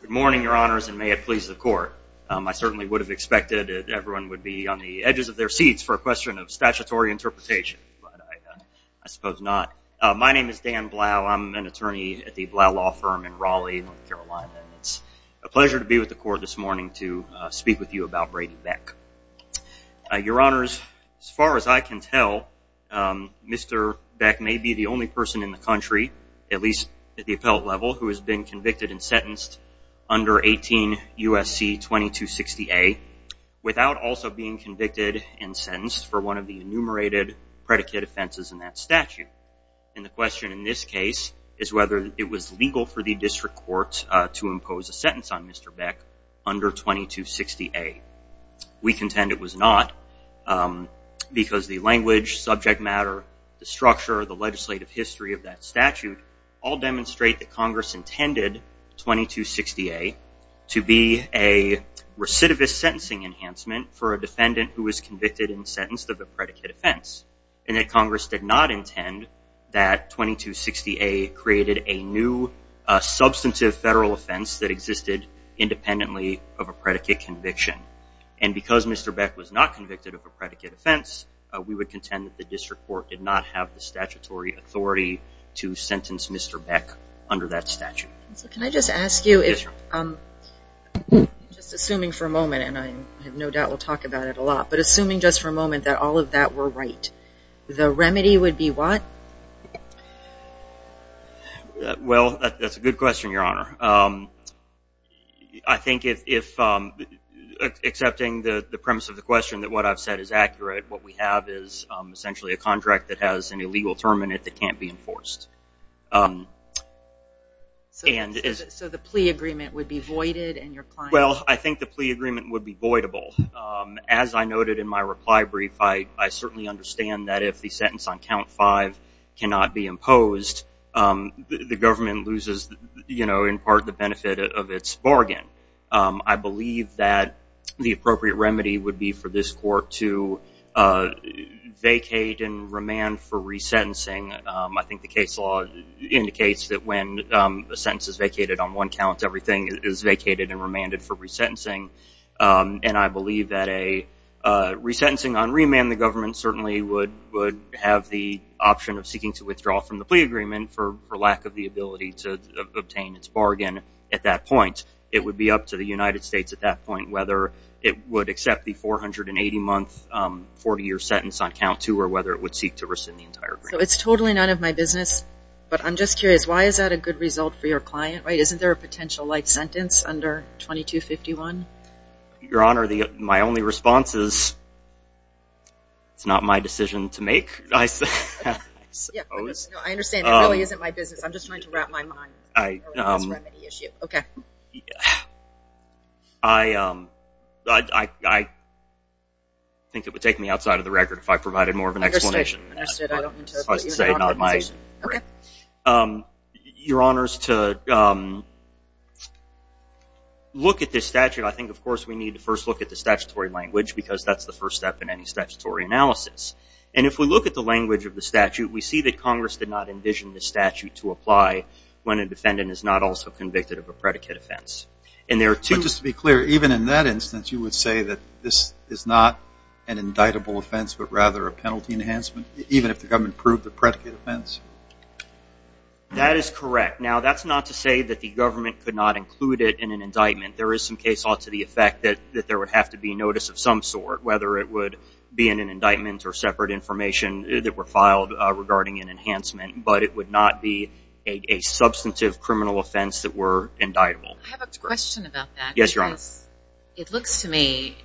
Good morning, your honors, and may it please the court. I certainly would have expected everyone would be on the edges of their seats for a question of statutory interpretation, but I suppose not. My name is Dan Blau. I'm an attorney at the Blau Law Firm in Raleigh, North Carolina. It's a pleasure to be with the court this morning to speak with you about Brady Beck. Your honors, as far as I can tell, Mr. Beck may be the only person in the country, at least at the appellate level, who has been convicted and sentenced under 18 U.S.C. 2260A without also being convicted and sentenced for one of the enumerated predicate offenses in that statute. And the question in this case is whether it was legal for the district court to impose a sentence on Mr. Beck under 2260A. We contend it was not because the language, subject matter, the structure, the legislative history of that statute all demonstrate that Congress intended 2260A to be a recidivist sentencing enhancement for a defendant who was convicted and sentenced of a predicate offense, and that Congress did not intend that 2260A created a new substantive federal offense that existed independently of a predicate conviction. And because Mr. Beck was not convicted of a predicate offense, we would contend that the district court did not have the statutory authority to sentence Mr. Beck under that statute. So can I just ask you if, just assuming for a moment, and I have no doubt we'll talk about it a lot, but assuming just for a moment that all of that were right, the remedy would be what? Well, that's a good question, Your Honor. I think if, accepting the premise of the question that I've said is accurate, what we have is essentially a contract that has an illegal term in it that can't be enforced. So the plea agreement would be voided? Well, I think the plea agreement would be voidable. As I noted in my reply brief, I certainly understand that if the sentence on count five cannot be imposed, the government loses, you know, in part the benefit of its court to vacate and remand for resentencing. I think the case law indicates that when a sentence is vacated on one count, everything is vacated and remanded for resentencing. And I believe that a resentencing on remand, the government certainly would have the option of seeking to withdraw from the plea agreement for lack of the ability to obtain its bargain at that point. It would be up to the United States at that point whether it would accept the 480-month, 40-year sentence on count two or whether it would seek to rescind the entire agreement. So it's totally none of my business, but I'm just curious, why is that a good result for your client, right? Isn't there a potential life sentence under 2251? Your Honor, my only response is it's not my decision to make, I suppose. No, I understand. It really isn't my business. I'm just trying to wrap my mind around this remedy issue. Okay. I think it would take me outside of the record if I provided more of an explanation. Understood. I don't mean to interrupt your conversation. Your Honor, as to look at this statute, I think, of course, we need to first look at the statutory language because that's the first step in any statutory analysis. And if we look at the language of the statute, we see that Congress did not envision this statute to apply when a defendant is not also convicted of a predicate offense. But just to be clear, even in that instance, you would say that this is not an indictable offense but rather a penalty enhancement, even if the government proved the predicate offense? That is correct. Now, that's not to say that the government could not include it in an indictment. There is some case ought to the effect that there would have to be notice of some sort, whether it would be in an indictment or separate information that were filed regarding an enhancement, but it would not be a substantive criminal offense that were indictable. I have a question about that. Yes, Your Honor. Because it looks to me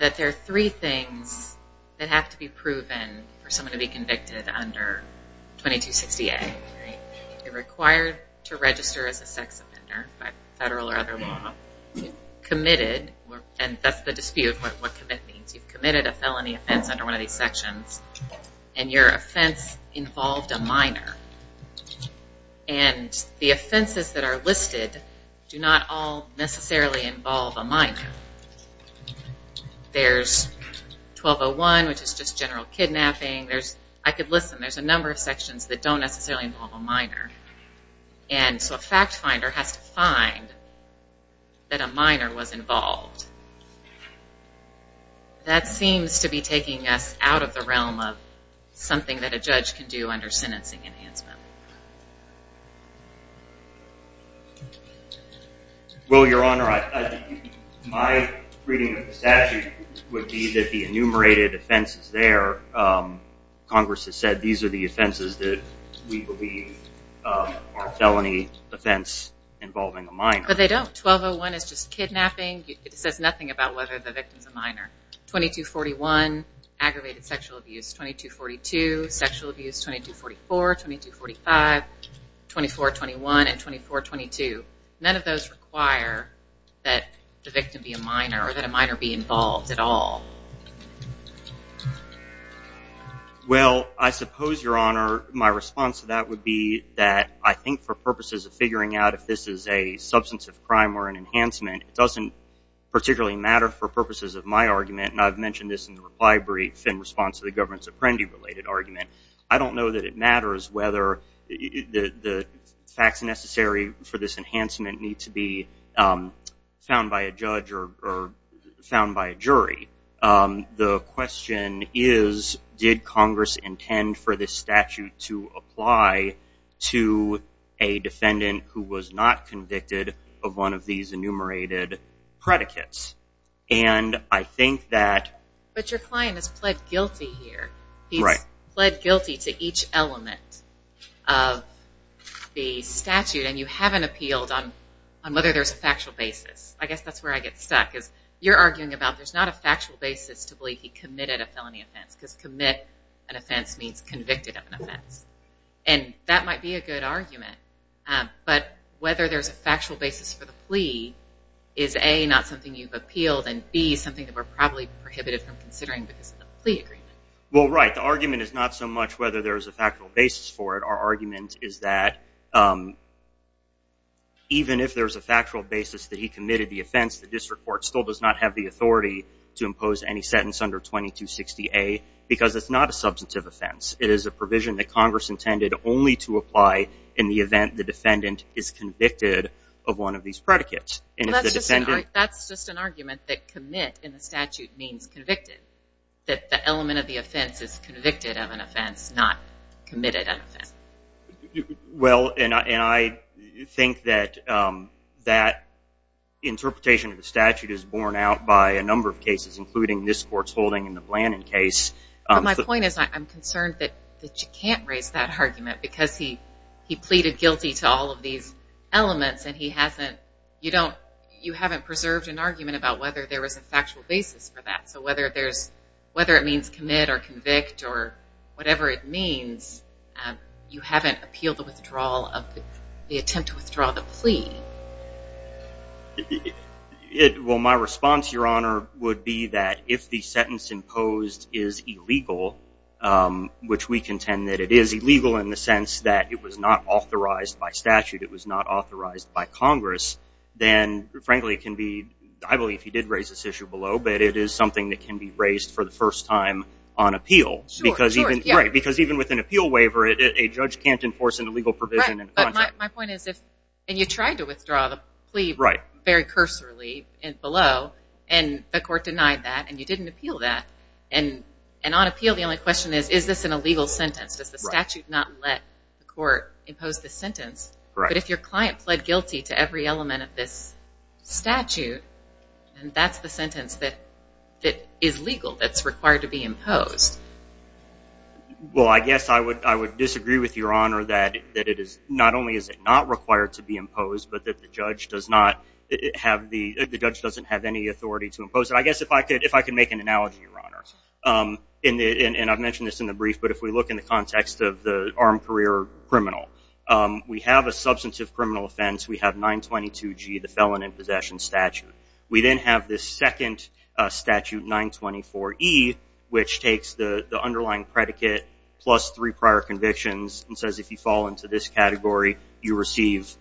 that there are three things that have to be proven for someone to be convicted under 2260A. You're required to register as a sex offender by federal or other law. You've committed, and that's the dispute, what commit means. You've committed a felony offense under one of these sections, and your offense involved a minor. And the offenses that are listed do not all necessarily involve a minor. There's 1201, which is just general kidnapping. There's, I could listen, there's a number of sections that don't necessarily involve a minor. And so a fact finder has to find that a minor was involved. That seems to be taking us out of the realm of something that a judge can do under sentencing enhancement. Well, Your Honor, my reading of the statute would be that the enumerated offenses there, Congress has said these are the offenses that we believe are felony offense involving a minor. But they don't. 1201 is just kidnapping. It says nothing about whether the victim's a minor. 2241, aggravated sexual abuse. 2242, sexual abuse. 2244, 2245, 2421, and 2422. None of those require that the victim be a minor or be involved at all. Well, I suppose, Your Honor, my response to that would be that I think for purposes of figuring out if this is a substance of crime or an enhancement, it doesn't particularly matter for purposes of my argument. And I've mentioned this in the reply brief in response to the government's Apprendi-related argument. I don't know that it matters whether the facts necessary for this enhancement need to be found by a judge or found by a jury. The question is, did Congress intend for this statute to apply to a defendant who was not convicted of one of these enumerated predicates? And I think that... But your client has pled guilty here. He's pled guilty to each element of the statute, and you haven't appealed on whether there's a factual basis. I guess that's where I get stuck, is you're arguing about there's not a factual basis to believe he committed a felony offense, because commit an offense means convicted of an offense. And that might be a good argument. But whether there's a factual basis for the plea is A, not something you've appealed, and B, something that we're probably prohibited from doing. Right. The argument is not so much whether there's a factual basis for it. Our argument is that even if there's a factual basis that he committed the offense, the district court still does not have the authority to impose any sentence under 2260A, because it's not a substantive offense. It is a provision that Congress intended only to apply in the event the defendant is convicted of one of these predicates. And if the defendant... That's just an argument that commit in the statute means convicted. That the element of the offense is convicted of an offense, not committed of an offense. Well, and I think that that interpretation of the statute is borne out by a number of cases, including this court's holding in the Blandin case. My point is, I'm concerned that you can't raise that argument, because he pleaded guilty to all of these cases. So whether it means commit or convict or whatever it means, you haven't appealed the withdrawal of the attempt to withdraw the plea. Well, my response, Your Honor, would be that if the sentence imposed is illegal, which we contend that it is illegal in the sense that it was not authorized by statute, it was not authorized by Congress, then frankly it can be... I believe he did raise this issue below, but it is something that can be raised for the first time on appeal. Because even with an appeal waiver, a judge can't enforce an illegal provision. Right, but my point is if... And you tried to withdraw the plea very cursorily below, and the court denied that, and you didn't appeal that. And on appeal, the only question is, is this an illegal sentence? Does the statute not let the court impose the sentence? But if your client pled guilty to every element of this statute, and that's the sentence that is legal, that's required to be imposed. Well, I guess I would disagree with Your Honor that it is... Not only is it not required to be imposed, but that the judge does not have the... The judge doesn't have any authority to impose it. I guess if I could make an analogy, Your Honor, and I've mentioned this in the brief, but if we look in the context of the armed career criminal, we have a substantive criminal offense. We have 922G, the felon in possession statute. We then have this second statute, 924E, which takes the underlying predicate, plus three prior convictions, and says if you fall into this category, you receive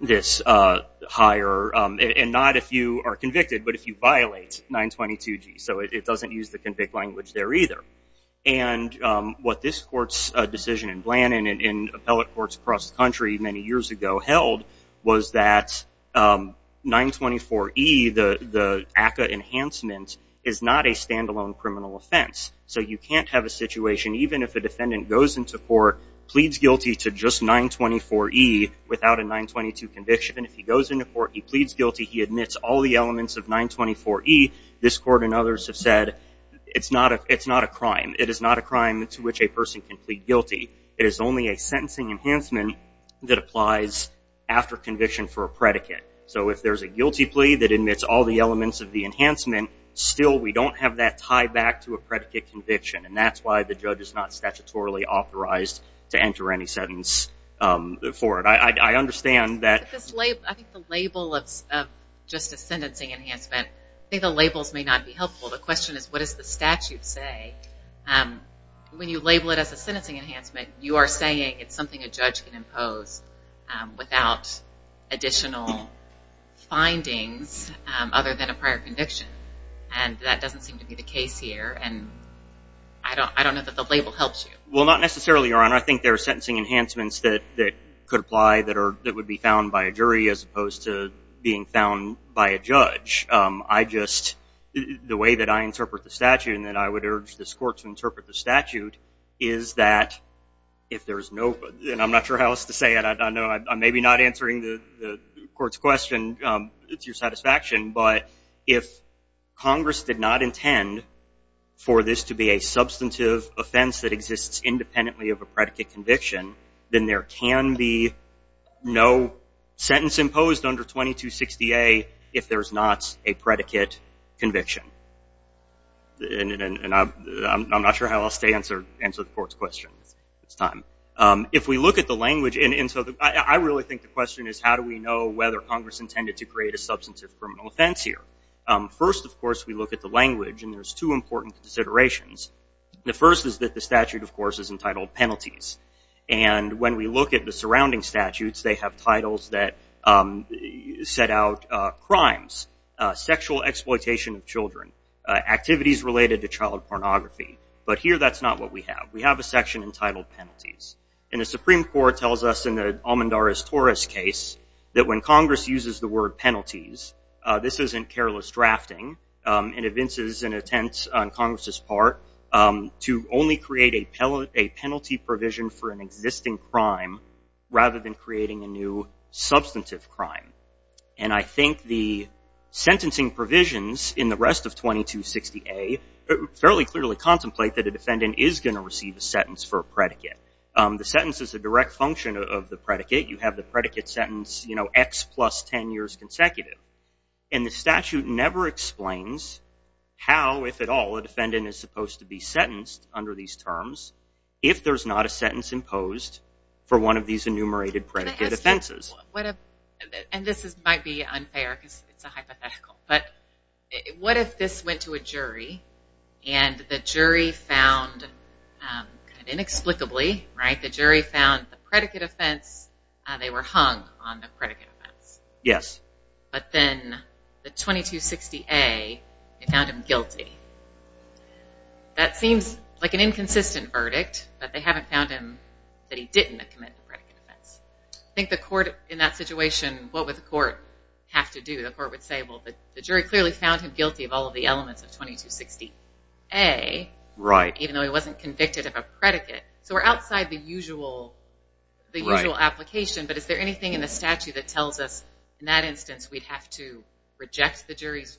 this higher... And not if you are convicted, but if you violate 922G. So it doesn't use the convict language there either. And what this court's decision in Blanton and in appellate courts across the country many years ago held was that 924E, the ACCA enhancement, is not a standalone criminal offense. So you can't have a situation, even if a defendant goes into court, pleads guilty to just 924E without a 922 conviction, and if he goes into court, he pleads guilty, he admits all the elements of 924E, this court and it is only a sentencing enhancement that applies after conviction for a predicate. So if there's a guilty plea that admits all the elements of the enhancement, still we don't have that tie back to a predicate conviction, and that's why the judge is not statutorily authorized to enter any sentence for it. I understand that... I think the label of just a sentencing enhancement, I think the labels may not be helpful. The question is what does the statute say when you label it as a sentencing enhancement? You are saying it's something a judge can impose without additional findings other than a prior conviction, and that doesn't seem to be the case here, and I don't know that the label helps you. Well, not necessarily, Your Honor. I think there are sentencing enhancements that could apply that would be found by a jury as opposed to being found by a judge. I just... The way that I interpret the statute and that I would urge this court to interpret the statute is that if there's no... And I'm not sure how else to say it. I know I'm maybe not answering the court's question to your satisfaction, but if Congress did not intend for this to be a substantive offense that exists independently of a predicate conviction, then there can be no sentence imposed under 2260A if there's not a predicate conviction. And I'm not sure how else to answer the court's question this time. If we look at the language, and so I really think the question is how do we know whether Congress intended to create a substantive criminal offense here? First, of course, we look at the language, and there's two important considerations. The first is that the statute, of course, is entitled penalties, and when we look at the surrounding statutes, they have titles that set out crimes, sexual exploitation of children, activities related to child pornography, but here that's not what we have. We have a section entitled penalties, and the Supreme Court tells us in the Almendarez-Torres case that when Congress uses the word penalties, this isn't careless drafting. It evinces an attempt on Congress's part to only create a penalty provision for an existing crime rather than creating a new substantive crime, and I think the sentencing provisions in the rest of 2260A fairly clearly contemplate that a defendant is going to receive a sentence for a predicate. The sentence is a direct function of the predicate. You have the predicate sentence, you know, x plus 10 years consecutive, and the statute never explains how, if at all, a defendant is supposed to be sentenced under these terms if there's not a sentence imposed for one of these enumerated predicate offenses. And this might be unfair because it's a hypothetical, but what if this went to a jury and the jury found, inexplicably, right, the jury found the predicate offense, they were hung on the predicate offense. Yes. But then the 2260A, they found him guilty. That seems like an inconsistent verdict, but they haven't found him that he didn't commit the predicate offense. I think the court, in that situation, what would the court have to do? The court would say, well, the jury clearly found him guilty of all of the elements of 2260A, right, even though he wasn't convicted of a predicate. So we're outside the usual, the usual application, but is there anything in the statute that tells us, in that instance, we'd have to reject the jury's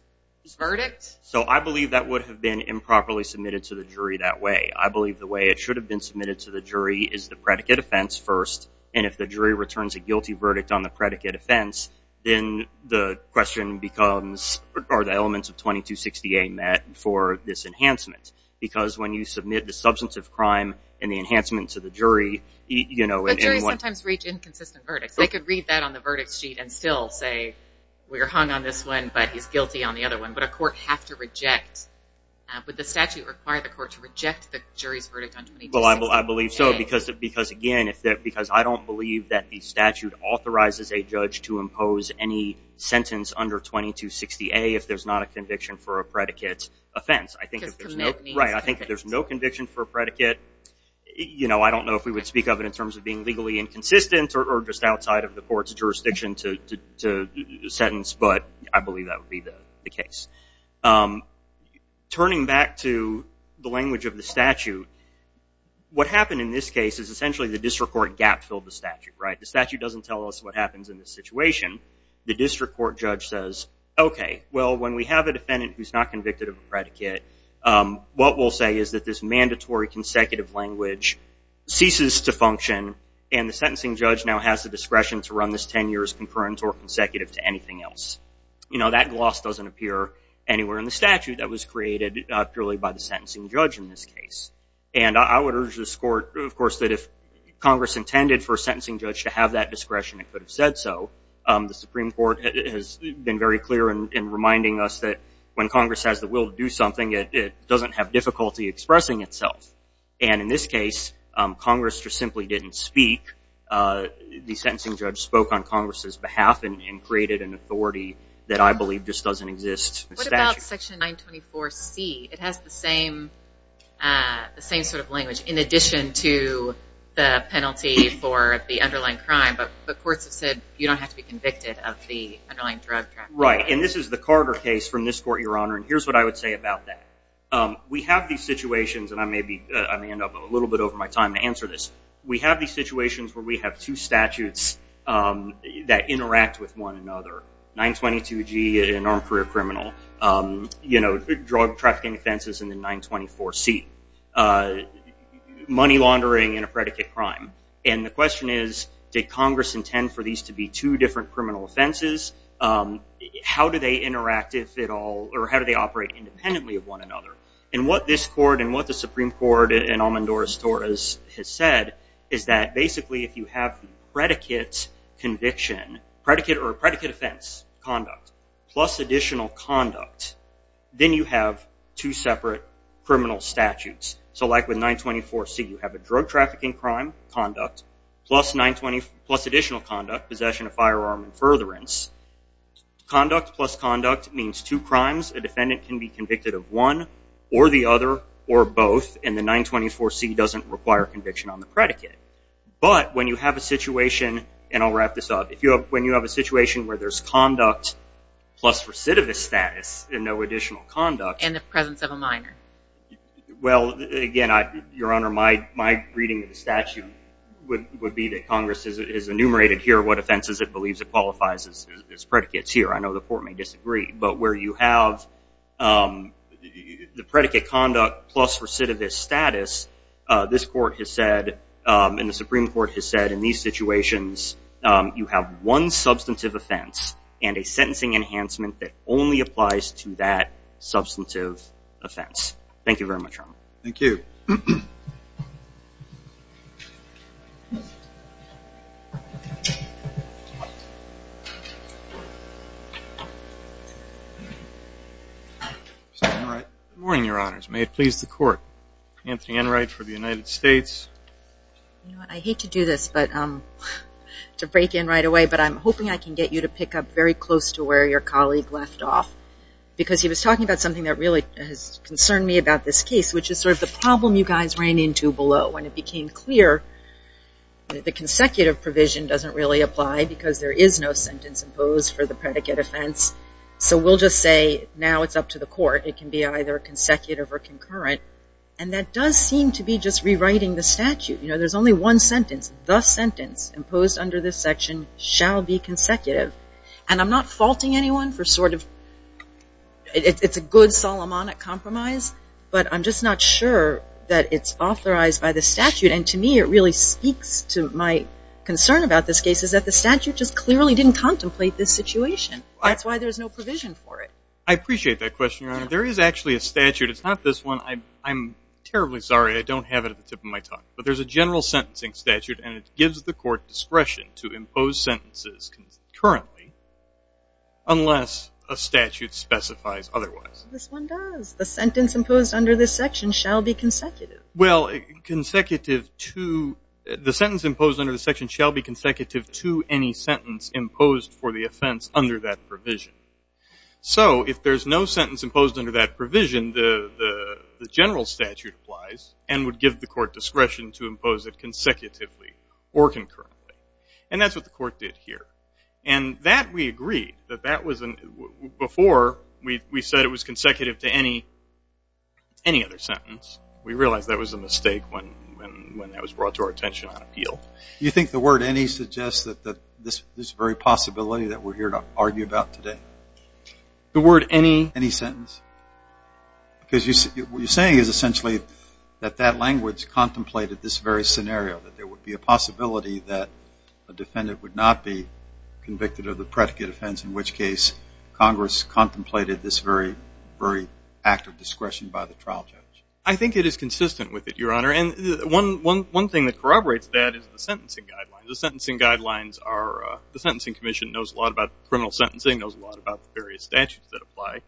verdict? So I believe that would have been improperly submitted to the jury that way. I believe the way it should have been submitted to the jury is the predicate offense first, and if the jury returns a guilty verdict on the predicate offense, then the question becomes, are the elements of 2260A met for this enhancement? Because when you submit the substance of crime and the enhancement to the jury, you know. But juries sometimes reach inconsistent verdicts. They could read that on the verdict sheet and still say, we're hung on this one, but he's guilty on the other one. But a court would have to reject, would the statute require the court to reject the jury's verdict on 2260A? Well, I believe so, because again, because I don't believe that the statute authorizes a judge to impose any sentence under 2260A if there's not a conviction for a predicate offense. Because commit means for a predicate. You know, I don't know if we would speak of it in terms of being legally inconsistent or just outside of the court's jurisdiction to sentence, but I believe that would be the case. Turning back to the language of the statute, what happened in this case is essentially the district court gap filled the statute, right? The statute doesn't tell us what happens in this situation. The district court judge says, okay, well, when we have a defendant who's not convicted of a predicate, what we'll say is that this mandatory consecutive language ceases to function and the sentencing judge now has the discretion to run this 10 years concurrent or consecutive to anything else. You know, that gloss doesn't appear anywhere in the statute that was created purely by the sentencing judge in this case. And I would urge this court, of course, that if Congress intended for a sentencing judge to have that discretion, it could have said so. The Supreme Court has been very clear in reminding us that when Congress has the will to do something, it doesn't have difficulty expressing itself. And in this case, Congress just simply didn't speak. The sentencing judge spoke on Congress's behalf and created an authority that I believe just doesn't exist. What about Section 924C? It has the same sort of language in addition to the penalty for the underlying crime, but the courts have said you don't have to be convicted of the underlying drug trafficking. Right. And this is the Carter case from this court, Your Honor, and here's what I would say about that. We have these situations, and I may end up a little bit over my time to answer this. We have these situations where we have two statutes that interact with one another, 922G in armed career criminal, drug trafficking offenses in the 924C, money laundering in a predicate crime. And the question is, did Congress intend for these to be two different criminal offenses? How do they interact if at all, or how do they operate independently of one another? And what this court and what the Supreme Court and Amandora Torres has said is that basically if you have the predicate conviction, predicate or predicate offense conduct, plus additional conduct, then you have two separate criminal statutes. So like with 924C, you have a drug trafficking crime conduct, plus additional conduct, possession of firearm and furtherance. Conduct plus conduct means two crimes. A defendant can be convicted of one, or the other, or both, and the 924C doesn't require conviction on the predicate. But when you have a situation, and I'll wrap this up, when you have a situation where there's conduct plus recidivist status and no additional conduct. In the presence of a minor. Well, again, Your Honor, my reading of the statute would be that Congress is enumerated here what offenses it believes it qualifies as predicates here. I know the court may disagree, but where you have the predicate conduct plus recidivist status, this court has said, and the Supreme Court has said, in these situations, you have one substantive offense and a sentencing enhancement that only applies to that substantive offense. Thank you very much, Your Honor. Thank you. Good morning, Your Honors. May it please the court. Anthony Enright for the United States. You know, I hate to do this, to break in right away, but I'm hoping I can get you to pick up very close to where your colleague left off. Because he was talking about something that really has concerned me about this case, which is sort of the problem you guys ran into below when it became clear that the consecutive provision doesn't really apply because there is no sentence imposed for the predicate offense. So we'll just say now it's up to the court. It does seem to be just rewriting the statute. You know, there's only one sentence. The sentence imposed under this section shall be consecutive. And I'm not faulting anyone for sort of, it's a good Solomonic compromise, but I'm just not sure that it's authorized by the statute. And to me, it really speaks to my concern about this case is that the statute just clearly didn't contemplate this situation. That's why there's no provision for it. I appreciate that question, Your Honor. There is actually a statute. It's not this one. I'm terribly sorry. I don't have it at the tip of my tongue. But there's a general sentencing statute, and it gives the court discretion to impose sentences concurrently unless a statute specifies otherwise. This one does. The sentence imposed under this section shall be consecutive. Well, the sentence imposed under the section shall be consecutive to any sentence imposed for the offense under that provision. So if there's no sentence imposed under that provision, the general statute applies and would give the court discretion to impose it consecutively or concurrently. And that's what the court did here. And that, we agree. Before, we said it was consecutive to any other sentence. We realized that was a mistake when that was brought to our attention on appeal. Do you think the word any suggests that this very possibility that we're to argue about today? The word any? Any sentence. Because what you're saying is essentially that that language contemplated this very scenario, that there would be a possibility that a defendant would not be convicted of the predicate offense, in which case Congress contemplated this very, very act of discretion by the trial judge. I think it is consistent with it, Your Honor. And one thing that corroborates that is the sentencing guidelines. The sentencing guidelines are, the Sentencing Commission knows a lot about criminal sentencing, knows a lot about the various statutes that apply.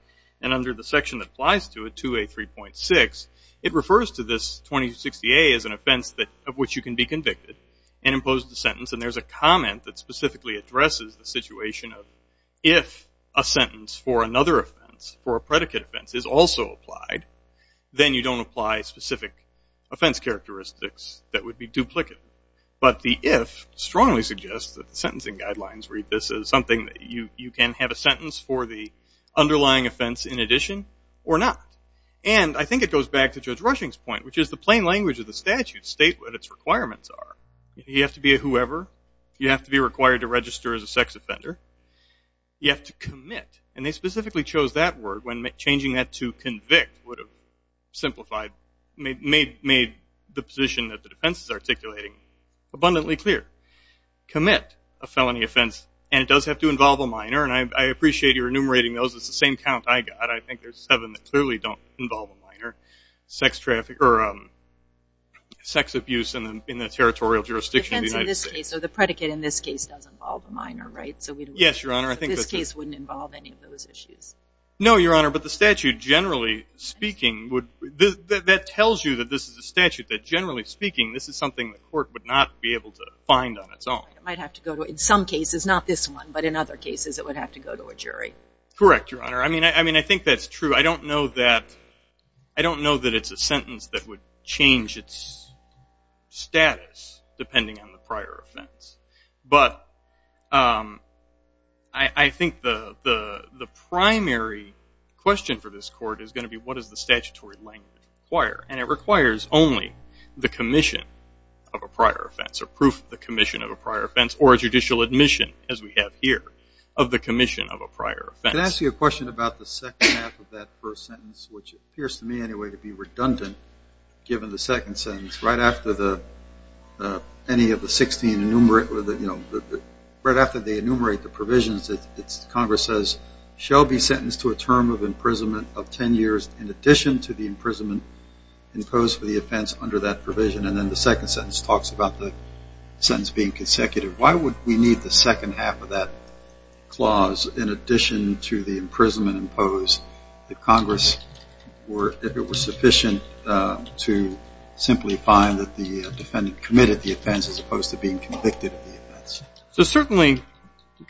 And under the section that applies to it, 2A3.6, it refers to this 2260A as an offense of which you can be convicted and impose the sentence. And there's a comment that specifically addresses the situation of if a sentence for another offense for a predicate offense is also applied, then you don't apply specific offense characteristics that would be duplicate. But the if strongly suggests that the sentencing guidelines read this as something that you can have a sentence for the underlying offense in addition or not. And I think it goes back to Judge Rushing's point, which is the plain language of the statute state what its requirements are. You have to be a whoever. You have to be required to register as a sex offender. You have to commit. And they specifically chose that word when changing that to convict would have simplified, made the position that the defense is articulating abundantly clear. Commit a felony offense, and it does have to involve a minor. And I appreciate you're enumerating those. It's the same count I got. I think there's seven that clearly don't involve a minor. Sex traffic or sex abuse in the territorial jurisdiction of the United States. So the predicate in this case does involve a minor, right? So we don't... Yes, Your Honor. I think that... This case wouldn't involve any of those issues. No, Your Honor. But the statute generally speaking would... That tells you that this is a statute that generally speaking, this is something the court would not be able to find on its own. It might have to go to... In some cases, not this one, but in other cases, it would have to go to a jury. Correct, Your Honor. I mean, I think that's true. I don't know that it's a sentence that would question for this court is going to be, what does the statutory language require? And it requires only the commission of a prior offense, or proof of the commission of a prior offense, or a judicial admission, as we have here, of the commission of a prior offense. Can I ask you a question about the second half of that first sentence, which appears to me, anyway, to be redundant, given the second sentence, right after any of the 16 enumerate... Congress says, shall be sentenced to a term of imprisonment of 10 years in addition to the imprisonment imposed for the offense under that provision. And then the second sentence talks about the sentence being consecutive. Why would we need the second half of that clause, in addition to the imprisonment imposed, if Congress were... If it were sufficient to simply find that the defendant committed the offense, as opposed to being convicted of the prior offense?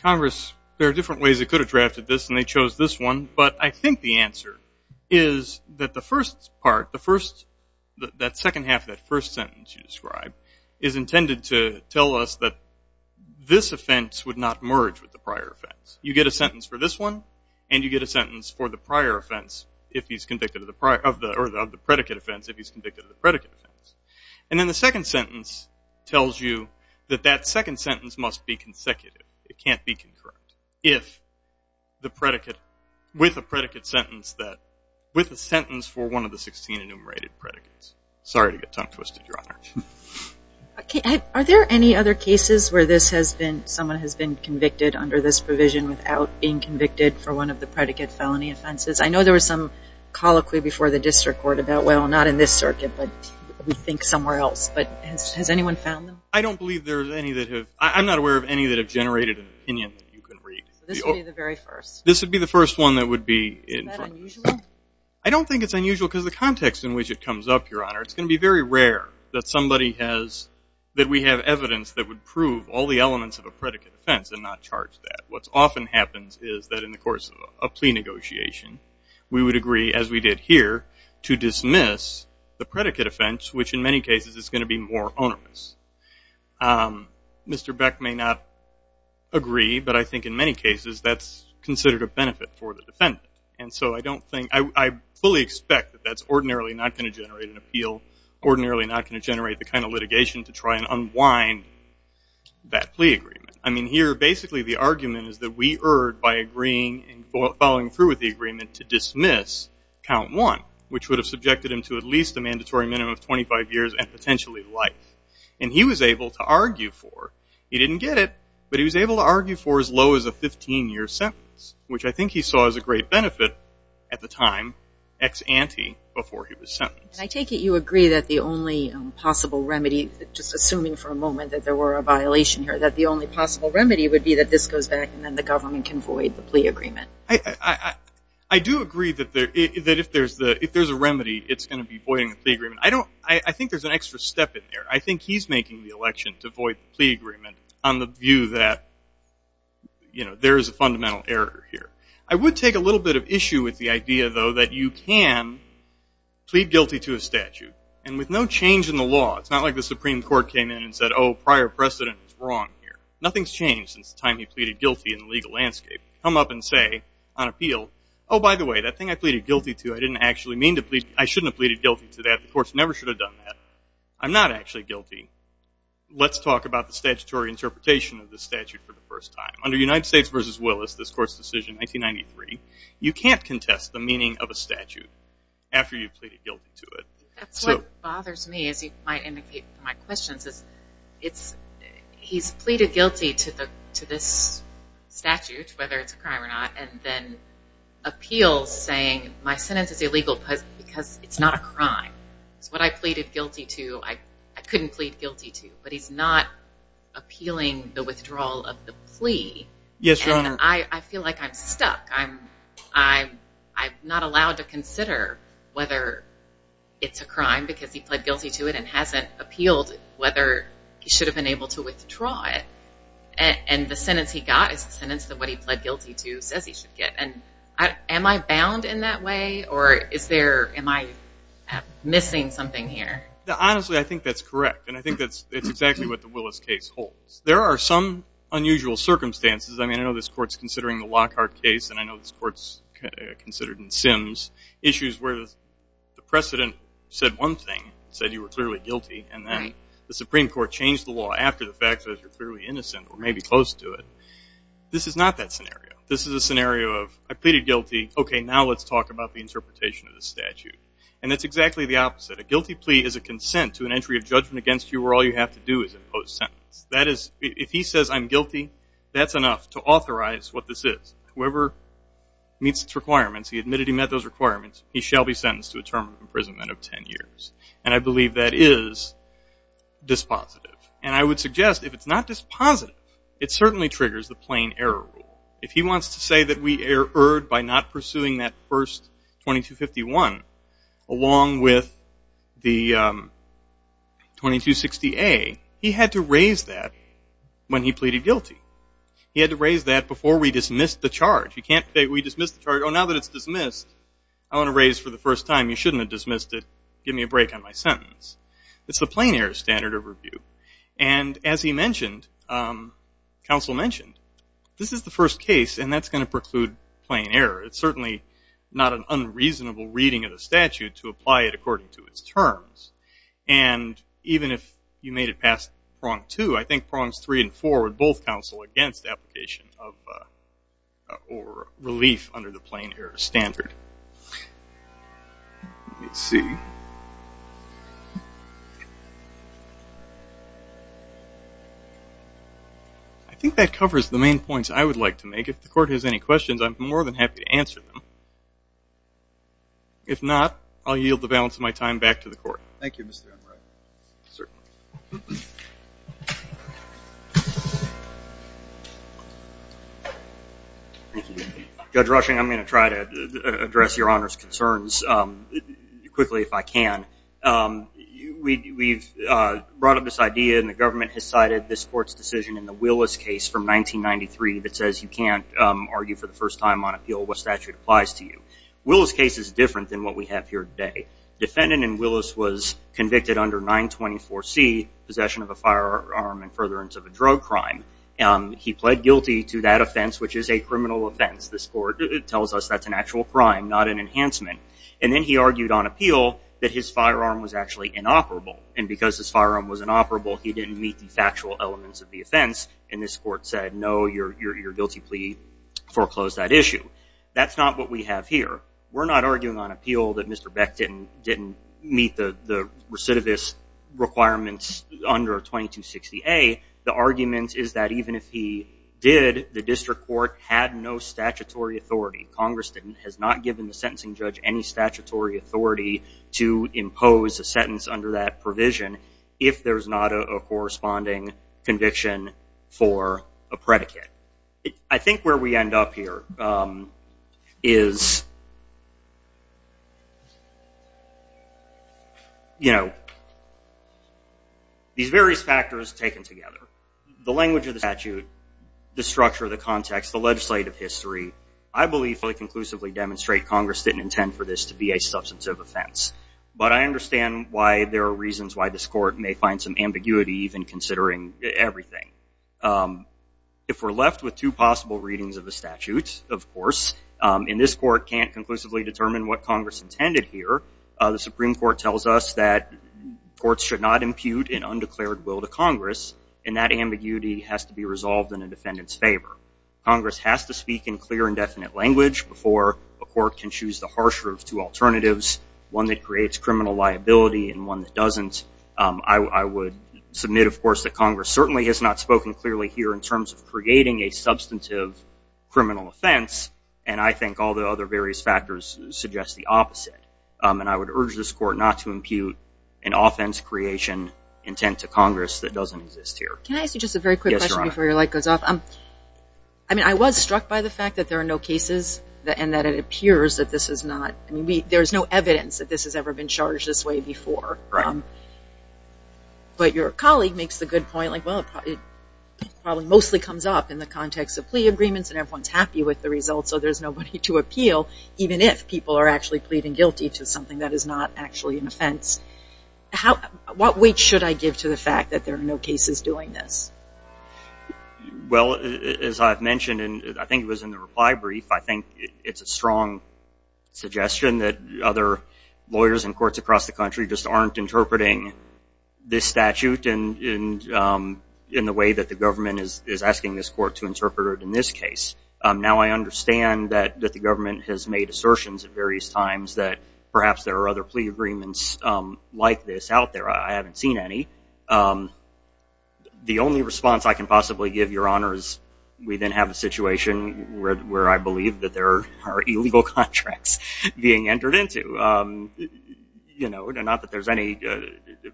Congress, there are different ways it could have drafted this, and they chose this one. But I think the answer is that the first part, the first... That second half, that first sentence you described, is intended to tell us that this offense would not merge with the prior offense. You get a sentence for this one, and you get a sentence for the prior offense, if he's convicted of the prior... Or the predicate offense, if he's convicted of the predicate offense. And then the second sentence tells you that that second sentence must be consecutive. It can't be concurrent, if the predicate... With a predicate sentence that... With a sentence for one of the 16 enumerated predicates. Sorry to get tongue-twisted, Your Honor. Are there any other cases where this has been... Someone has been convicted under this provision without being convicted for one of the predicate felony offenses? I know there was some colloquy before the district court about, well, not in this circuit, but we think somewhere else. But has anyone found them? I don't believe there's any that have... I'm not aware of any that have generated an opinion that you can read. This would be the very first. This would be the first one that would be... Is that unusual? I don't think it's unusual, because the context in which it comes up, Your Honor, it's going to be very rare that somebody has... That we have evidence that would prove all the elements of a predicate offense and not charge that. What often happens is that in the course of a plea negotiation, we would agree, as we did here, to dismiss the predicate offense, which in many cases is going to be more onerous. Mr. Beck may not agree, but I think in many cases that's considered a benefit for the defendant. And so I don't think... I fully expect that that's ordinarily not going to generate an appeal, ordinarily not going to generate the kind of litigation to try and unwind that plea agreement. I mean, here, basically, the argument is that we erred by agreeing and following through with the agreement to dismiss count one, which would have subjected him to at least a mandatory minimum of 25 years and potentially life. And he was able to argue for... He didn't get it, but he was able to argue for as low as a 15-year sentence, which I think he saw as a great benefit at the time, ex ante, before he was sentenced. I take it you agree that the only possible remedy, just assuming for a moment that there were a violation here, that the only possible remedy would be that this goes back and then the government can void the plea agreement. I do agree that if there's a plea agreement. I think there's an extra step in there. I think he's making the election to void the plea agreement on the view that there is a fundamental error here. I would take a little bit of issue with the idea, though, that you can plead guilty to a statute. And with no change in the law, it's not like the Supreme Court came in and said, oh, prior precedent is wrong here. Nothing's changed since the time he pleaded guilty in the legal landscape. Come up and say, on appeal, oh, by the way, that thing I pleaded guilty to, I didn't actually mean to plead... I shouldn't have pleaded guilty to that. The courts never should have done that. I'm not actually guilty. Let's talk about the statutory interpretation of the statute for the first time. Under United States versus Willis, this court's decision in 1993, you can't contest the meaning of a statute after you've pleaded guilty to it. That's what bothers me, as you might indicate my questions, is he's pleaded guilty to this statute, whether it's a crime or not, and then appeals saying my sentence is illegal because it's not a crime. It's what I pleaded guilty to. I couldn't plead guilty to, but he's not appealing the withdrawal of the plea. Yes, Your Honor. And I feel like I'm stuck. I'm not allowed to consider whether it's a crime because he pled guilty to it and hasn't appealed whether he should have been able to withdraw it. And the sentence he got is the sentence that what he pled guilty to says he should get. Am I bound in that way, or is there... Am I missing something here? Honestly, I think that's correct, and I think that's exactly what the Willis case holds. There are some unusual circumstances. I mean, I know this court's considering the Lockhart case, and I know this court's considered in Sims, issues where the precedent said one thing, said you were clearly guilty, and then the Supreme Court changed the This is not that scenario. This is a scenario of I pleaded guilty, okay, now let's talk about the interpretation of the statute. And that's exactly the opposite. A guilty plea is a consent to an entry of judgment against you where all you have to do is impose sentence. That is, if he says I'm guilty, that's enough to authorize what this is. Whoever meets its requirements, he admitted he met those requirements, he shall be sentenced to a term of imprisonment of 10 years. And I believe that is dispositive. And I would suggest if it's not dispositive, it certainly triggers the plain error rule. If he wants to say that we erred by not pursuing that first 2251, along with the 2260A, he had to raise that when he pleaded guilty. He had to raise that before we dismissed the charge. You can't say we dismissed the charge. Oh, now that it's dismissed, I want to raise for the first time, you shouldn't have dismissed it, give me a break on my sentence. It's the plain error standard of review. And as he mentioned, counsel mentioned, this is the first case and that's going to preclude plain error. It's certainly not an unreasonable reading of the statute to apply it according to its terms. And even if you made it past prong two, I think prongs three and four would both counsel against application of or relief under the plain error standard. Let's see. I think that covers the main points I would like to make. If the court has any questions, I'm more than happy to answer them. If not, I'll yield the balance of my time back to the court. Thank you, Mr. Enright. Judge Rushing, I'm going to try to address your Honor's concerns quickly if I can. We've brought up this idea and the government has cited this court's decision in the Willis case from 1993 that says you can't argue for the first time on appeal what statute applies to you. Willis case is different than what we have here today. Defendant in Willis was convicted under 924C, possession of a firearm and furtherance of a drug crime. He pled guilty to that offense, which is a criminal offense. This court tells us that's an actual crime, not an enhancement. And then he argued on appeal that his firearm was actually inoperable. And because his firearm was inoperable, he didn't meet the factual elements of the offense. And this foreclosed that issue. That's not what we have here. We're not arguing on appeal that Mr. Beck didn't meet the recidivist requirements under 2260A. The argument is that even if he did, the district court had no statutory authority. Congress has not given the sentencing judge any statutory authority to impose a sentence under that provision if there's not a corresponding conviction for a predicate. I think where we end up here is these various factors taken together. The language of the statute, the structure of the context, the legislative history, I believe fully conclusively demonstrate Congress didn't intend for this to be a substantive offense. But I understand why there are reasons why this court may find some ambiguity even considering everything. If we're left with two possible readings of the statute, of course, and this court can't conclusively determine what Congress intended here, the Supreme Court tells us that courts should not impute an undeclared will to Congress, and that ambiguity has to be resolved in a defendant's favor. Congress has to speak in clear and definite language before a court can choose the harsher of two alternatives, one that creates criminal liability and one that doesn't. I would submit, of course, that Congress certainly has not spoken clearly here in terms of creating a substantive criminal offense, and I think all the other various factors suggest the opposite. And I would urge this court not to impute an offense creation intent to Congress that doesn't exist here. Can I ask you just a very quick question before your light goes off? I mean, I was struck by the fact that there are no cases and that it appears that this is not, I mean, there's no evidence that this has ever been charged this way before. But your colleague makes the good point, like, well, it probably mostly comes up in the context of plea agreements and everyone's happy with the results, so there's nobody to appeal, even if people are actually pleading guilty to something that is not actually an offense. How, what weight should I give to the fact that there I think it's a strong suggestion that other lawyers and courts across the country just aren't interpreting this statute in the way that the government is asking this court to interpret it in this case. Now I understand that the government has made assertions at various times that perhaps there are other plea agreements like this out there. I haven't seen any. The only response I can possibly give, Your Honors, we then have a situation where I believe that there are illegal contracts being entered into. You know, not that there's any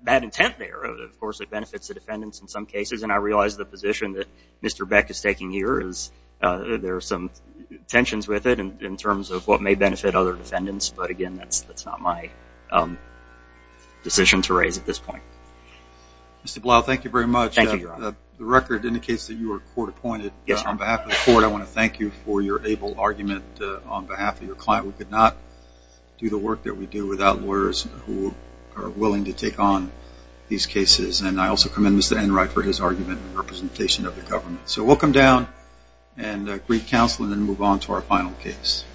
bad intent there. Of course, it benefits the defendants in some cases, and I realize the position that Mr. Beck is taking here is there are some tensions with it in terms of what may benefit other decisions to raise at this point. Mr. Blau, thank you very much. The record indicates that you are court appointed. On behalf of the court, I want to thank you for your able argument on behalf of your client. We could not do the work that we do without lawyers who are willing to take on these cases, and I also commend Mr. Enright for his argument in representation of the government. So we'll come down and greet counsel and then move on to our final case.